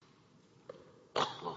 v. Sealed v. Sealed v. Sealed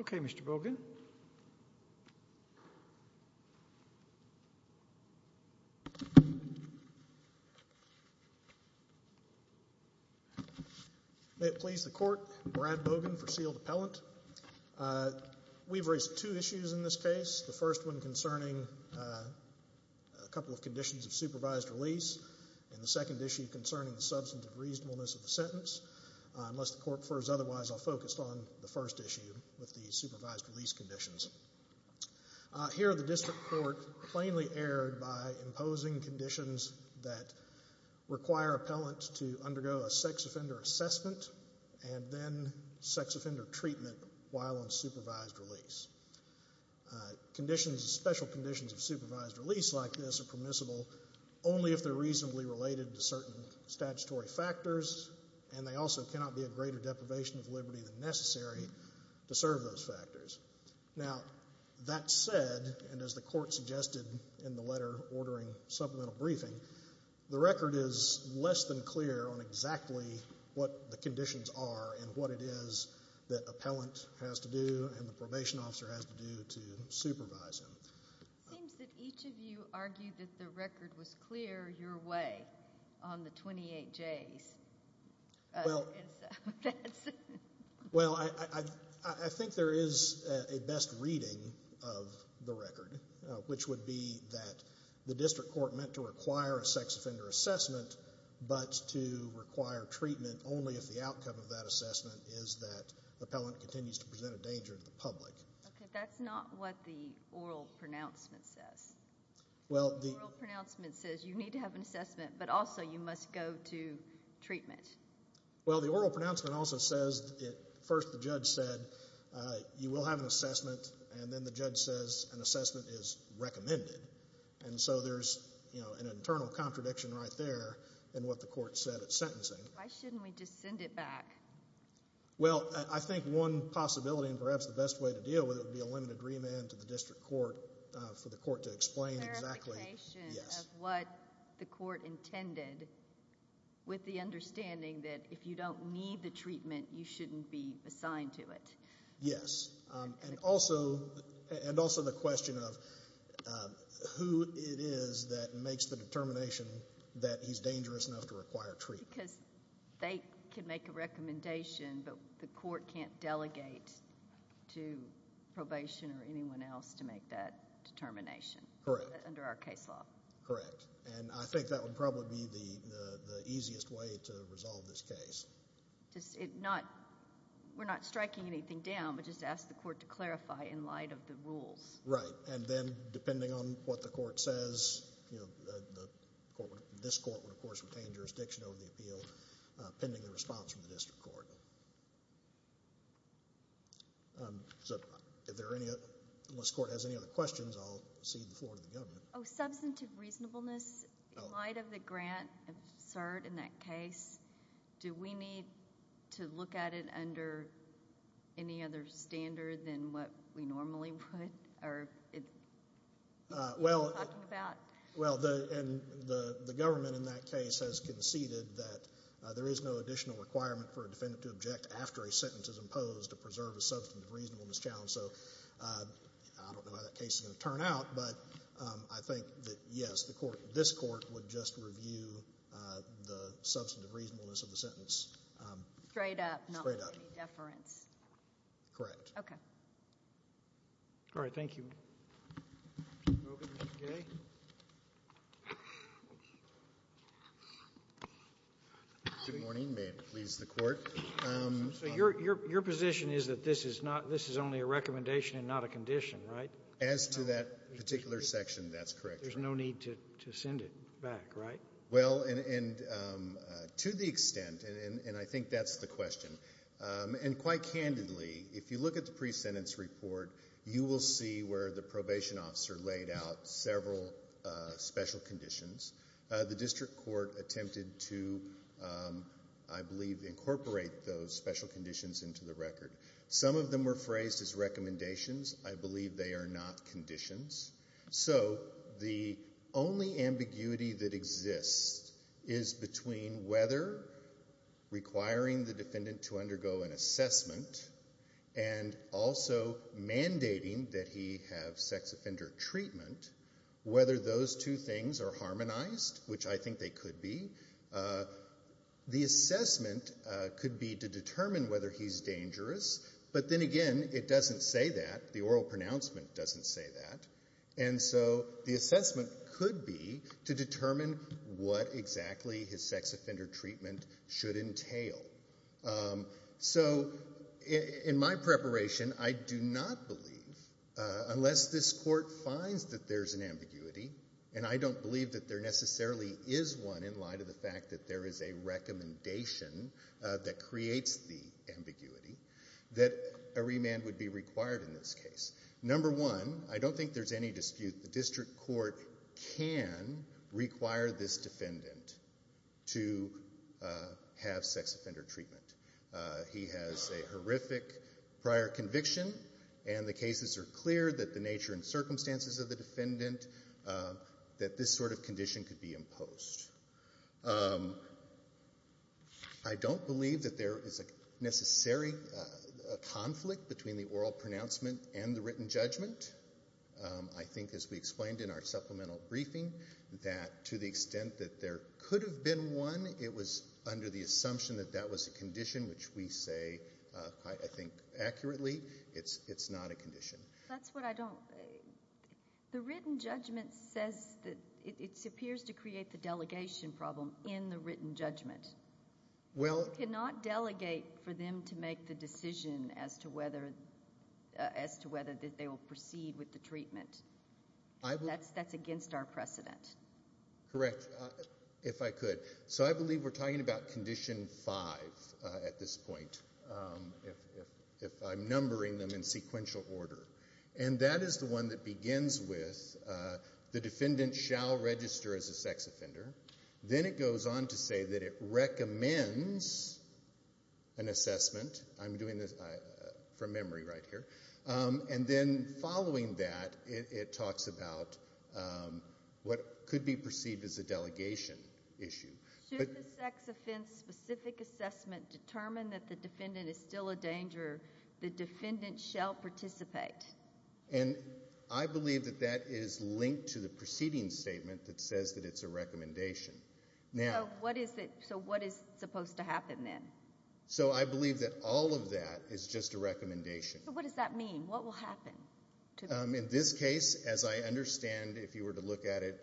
Okay, Mr. Bogan. May it please the court. Brad Bogan for Sealed Appellant. We've raised two issues in this case. The first one concerning a couple of conditions of supervised release and the substance of reasonableness of the sentence. Unless the court prefers otherwise, I'll focus on the first issue with the supervised release conditions. Here, the district court plainly erred by imposing conditions that require appellant to undergo a sex offender assessment and then sex offender treatment while on supervised release. Conditions, special conditions of supervised release like this are permissible only if they're reasonably related to certain statutory factors and they also cannot be a greater deprivation of liberty than necessary to serve those factors. Now, that said, and as the court suggested in the letter ordering supplemental briefing, the record is less than clear on exactly what the conditions are and what it is that appellant has to do and the probation officer has to do to supervise him. It seems that each of you argued that the record was clear your way on the 28Js. Well, I think there is a best reading of the record, which would be that the district court meant to require a sex offender assessment but to require treatment only if the outcome of that assessment is that appellant continues to present a danger to the public. Okay, that's not what the oral pronouncement says. Well, the oral pronouncement says you need to have an assessment but also you must go to treatment. Well, the oral pronouncement also says, first the judge said you will have an assessment and then the judge says an assessment is recommended and so there's, you know, an internal contradiction right there in what the court said at sentencing. Why shouldn't we just send it back? Well, I think one possibility and perhaps the best way to deal with it would be a limited remand to the district court for the court to explain exactly. Clarification of what the court intended with the understanding that if you don't need the treatment you shouldn't be assigned to it. Yes. And also the question of who it is that makes the determination that he's dangerous enough to require treatment. Because they can make a recommendation but the court can't delegate to probation or anyone else to make that determination. Correct. Under our case law. Correct. And I think that would probably be the easiest way to resolve this case. We're not striking anything down but just ask the court to clarify in light of the rules. Right. And then depending on what the court says, you know, this court would of course retain jurisdiction over the appeal pending the response from the district court. Unless the court has any other questions, I'll cede the floor to the government. Substantive reasonableness in light of the grant absurd in that case, do we need to look at it under any other standard than what we normally would? Well, and the government in that case has conceded that there is no additional requirement for a defendant to object after a sentence is imposed to preserve a substantive reasonableness challenge. So I don't know how that case is going to turn out but I think that, yes, this court would just review the substantive reasonableness of the sentence. Straight up. Not with any deference. Correct. Okay. All right. Thank you. Mr. Kagan. Mr. Kagan. Good morning. May it please the Court. Your position is that this is only a recommendation and not a condition, right? As to that particular section, that's correct. There's no need to send it back, right? Well, and to the extent, and I think that's the question, and quite candidly, if you look at the pre-sentence report, you can see where the probation officer laid out several special conditions. The district court attempted to, I believe, incorporate those special conditions into the record. Some of them were phrased as recommendations. I believe they are not conditions. So the only ambiguity that exists is between whether requiring the defendant to undergo an assessment and also mandating that he have sex offender treatment, whether those two things are harmonized, which I think they could be. The assessment could be to determine whether he's dangerous, but then again, it doesn't say that. The oral pronouncement doesn't say that. And so the assessment could be to determine what exactly his sex offender treatment should entail. So in my preparation, I do not believe that there is a recommendation that creates the ambiguity that a remand would be required in this case. Number one, I don't think there's any dispute. The district court can require this defendant to have sex offender treatment. court can require this defendant to have sex offender treatment. And the cases are clear that the nature and circumstances of the defendant, that this sort of condition could be imposed. I don't believe that there is a necessary conflict between the oral pronouncement and the written judgment. I think as we explained in our supplemental briefing, that to the extent that there could have been one, it was under the assumption that that was a condition, which we say, I think accurately, it's not a condition. The written judgment says that it appears to create the delegation problem in the written judgment. You cannot delegate for them to make the decision as to whether they will proceed with the treatment. That's against our precedent. Correct, if I could. So I believe we're talking about condition five at this point. If I'm numbering them in sequential order. And that is the one that begins with the defendant shall register as a sex offender. Then it goes on to say that it recommends an assessment. I'm doing this from memory right here. And then following that, it talks about what could be perceived as a delegation issue. Should the sex offense specific assessment determine that the defendant shall participate? And I believe that that is linked to the preceding statement that says that it's a recommendation. So what is supposed to happen then? So I believe that all of that is just a recommendation. What does that mean? What will happen? In this case, as I understand, if you were to look at it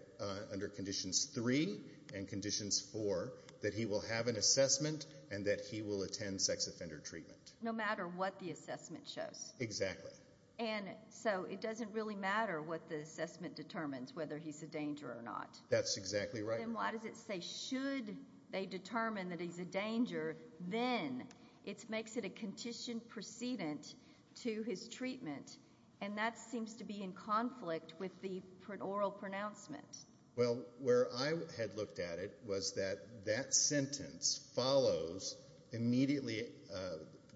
under conditions three and conditions four, that he will have an assessment and that he will attend sex offender treatment. That's what the assessment shows. Exactly. And so it doesn't really matter what the assessment determines, whether he's a danger or not. That's exactly right. Then why does it say should they determine that he's a danger, then it makes it a conditioned precedent to his treatment. And that seems to be in conflict with the oral pronouncement. Well, where I had looked at it was that that sentence follows immediately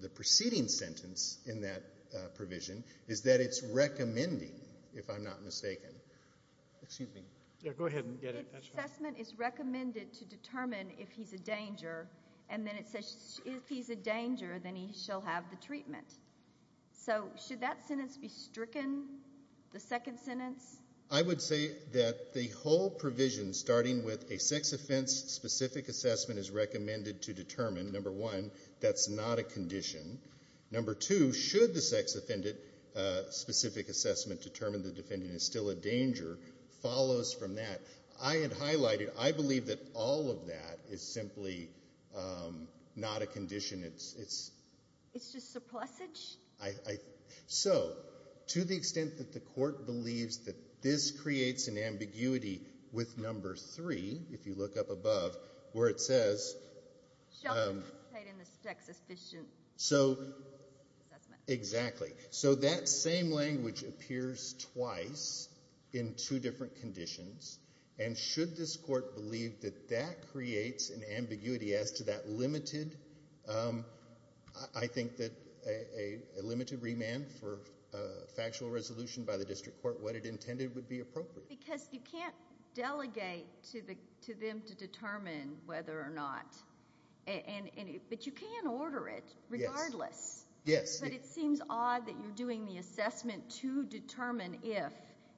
the preceding sentence in that provision is that it's recommending, if I'm not mistaken. Excuse me. Yeah, go ahead and get it. That's fine. The assessment is recommended to determine if he's a danger, and then it says if he's a danger, then he shall have the treatment. So should that sentence be stricken, the second sentence? I would say that the whole provision, starting with a sex offense specific assessment, is recommended to determine, number one, that's not a condition. Number two, should the sex offendant specific assessment determine the defendant is still a danger, follows from that. I had highlighted, I believe that all of that is simply not a condition. It's just a plusage. So to the extent that the Court believes that this creates an ambiguity with number three, if you look up above, where it ambiguity with number three, if you look up above, where it says. So they update in the sex efficient assessment. So. Exactly. So that same language appears twice in two different conditions. And should this Court believe that that creates an ambiguity as to that limited, I think that a limited remand for factual resolution by the District Court, what it intended would be appropriate. Because you can't delegate to the, to them to determine whether or not, and because it includes these, these documents that you can order it regardless. Yes. But it seems odd that you're doing the assessment to determine if,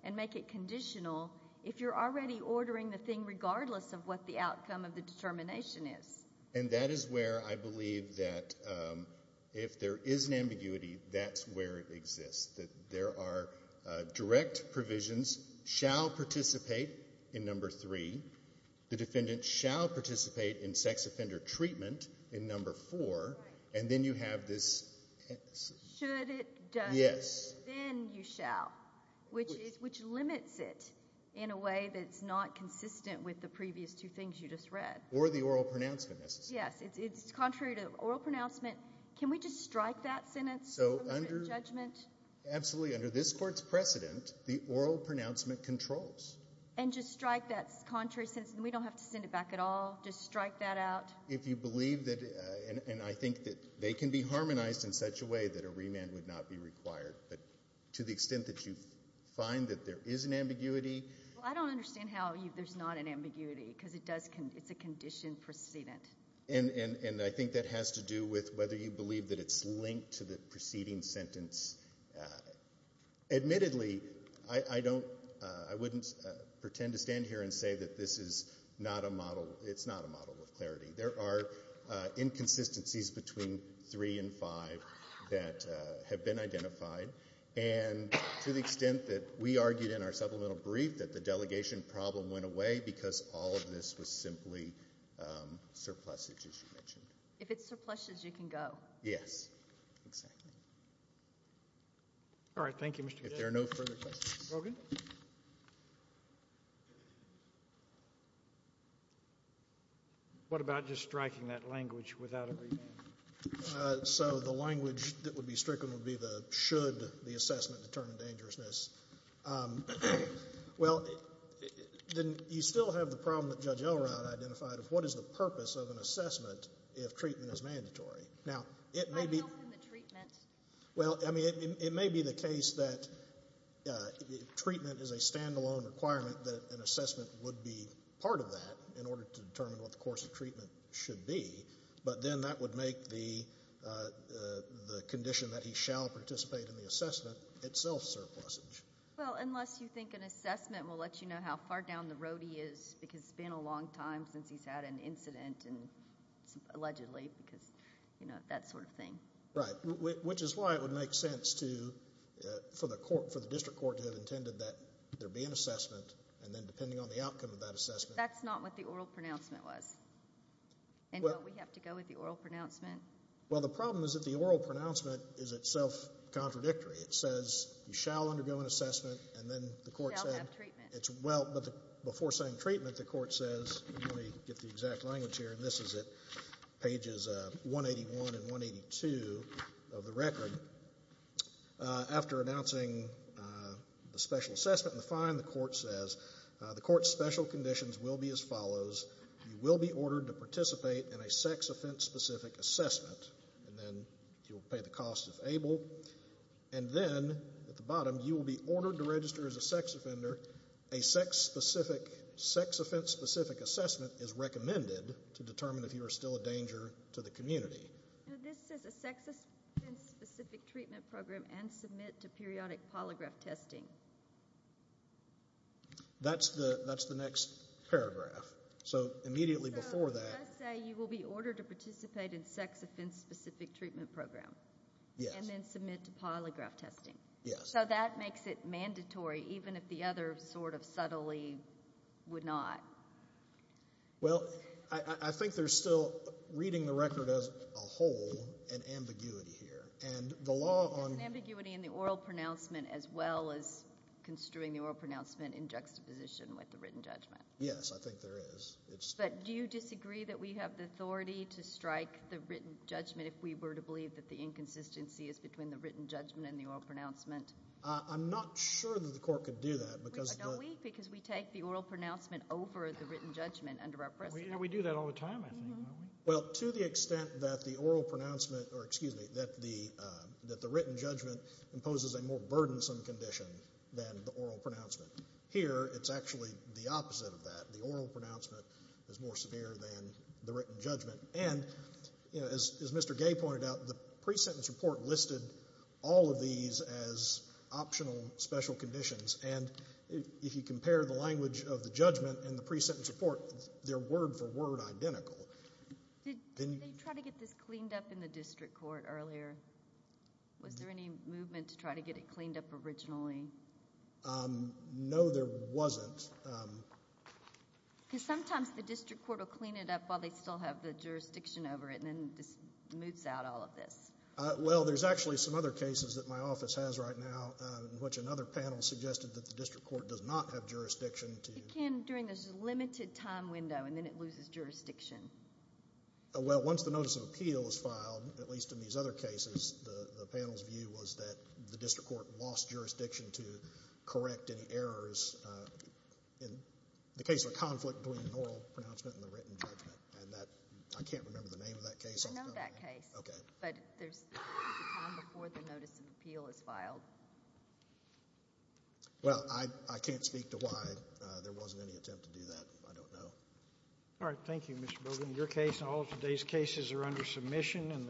and make it conditional, if you're already ordering the thing regardless of what the outcome of the determination is. And that is where I believe that if there is an ambiguity, that's where it exists. That there are direct provisions shall participate in number three. The defendant shall participate in sex offender treatment in number four. And then you have this. Should it. Yes. Then you shall. Which is, which limits it in a way that's not consistent with the previous two things you just read. Or the oral pronouncement necessarily. Yes. It's contrary to oral pronouncement. Can we just strike that sentence? So under. Judgment. Absolutely. Under this Court's precedent, the oral pronouncement controls. And just strike that contrary sentence. And we don't have to send it back at all. Just strike that out. If you believe that, and I think that they can be harmonized in such a way that a remand would not be required. But to the extent that you find that there is an ambiguity. I don't understand how there's not an ambiguity. Because it does. It's a condition precedent. And I think that has to do with whether you believe that it's linked to the preceding sentence. Admittedly, I don't. I wouldn't. Pretend to stand here and say that this is not a model. It's not a model of clarity. There are inconsistencies between three and five. That have been identified. And to the extent that we argued in our supplemental brief. That the delegation problem went away. Because all of this was simply. Surpluses. If it's surpluses, you can go. Yes. Exactly. All right. Thank you, Mr. If there are no further questions. Brogan. What about just striking that language without a remand? So the language that would be stricken. Would be the. Should the assessment determine dangerousness. Well. Then. You still have the problem that Judge Elrod identified. Of what is the purpose of an assessment. If treatment is mandatory. Now it may be. Well. I mean. It may be the case that. Treatment is a standalone requirement. That an assessment would be part of that. In order to determine what the course of treatment. Should be. But then that would make the. The condition that he shall participate in the assessment. Itself surpluses. Well. Unless you think an assessment will let you know how far down the road. He is. Because it's been a long time since he's had an incident. Allegedly. Because you know. That sort of thing. Right. Which is why it would make sense to. For the court. For the district court to have intended that. There be an assessment. And then depending on the outcome of that assessment. That's not what the oral pronouncement was. And we have to go with the oral pronouncement. Well the problem is that the oral pronouncement. Is itself contradictory. It says you shall undergo an assessment. And then the court said. It's well. Before saying treatment the court says. Let me get the exact language here. And this is it. Pages 181 and 182. Of the record. After announcing. The special assessment and the fine. The court says. The court special conditions will be as follows. You will be ordered to participate in a sex offense. Specific assessment. And then you'll pay the cost if able. And then at the bottom. You will be ordered to register as a sex offender. A sex specific. Sex offense specific assessment. Is recommended. To determine if you are still a danger to the community. This is a sex. Specific treatment program. And submit to periodic polygraph testing. That's the. That's the next paragraph. So immediately before that. You will be ordered to participate in sex offense. Specific treatment program. And then submit to polygraph testing. So that makes it mandatory. Even if the other sort of subtly. Would not. Well. I think there's still. Reading the record as a whole. And ambiguity here. And the law on. Ambiguity in the oral pronouncement. As well as construing the oral pronouncement. In juxtaposition with the written judgment. Yes I think there is. But do you disagree that we have the authority. To strike the written judgment. If we were to believe that the inconsistency. Is between the written judgment. And the oral pronouncement. I'm not sure that the court could do that. Because we take the oral pronouncement. Over the written judgment. We do that all the time. Well to the extent that the oral pronouncement. Or excuse me. That the written judgment. Imposes a more burdensome condition. Than the oral pronouncement. Here it's actually the opposite of that. The oral pronouncement is more severe. Than the written judgment. And as Mr. Gay pointed out. The pre-sentence report listed. All of these as. Optional special conditions. And if you compare the language. Of the judgment and the pre-sentence report. They're word for word identical. Did they try to get this cleaned up. In the district court earlier. Was there any movement. To try to get it cleaned up originally. No there wasn't. Because sometimes the district court. Will clean it up. While they still have the jurisdiction over it. And then just moves out all of this. Well there's actually some other cases. That my office has right now. In which another panel suggested. That the district court does not have jurisdiction. It can during this limited time window. And then it loses jurisdiction. Well once the notice of appeal is filed. At least in these other cases. The panel's view was that. The district court lost jurisdiction. To correct any errors. In the case of a conflict. Between an oral pronouncement. And the written judgment. I can't remember the name of that case. I don't know that case. But there's a time before the notice of appeal is filed. Well I can't speak to why. There wasn't any attempt to do that. I don't know. All right thank you Mr. Bogan. Your case and all of today's cases are under submission.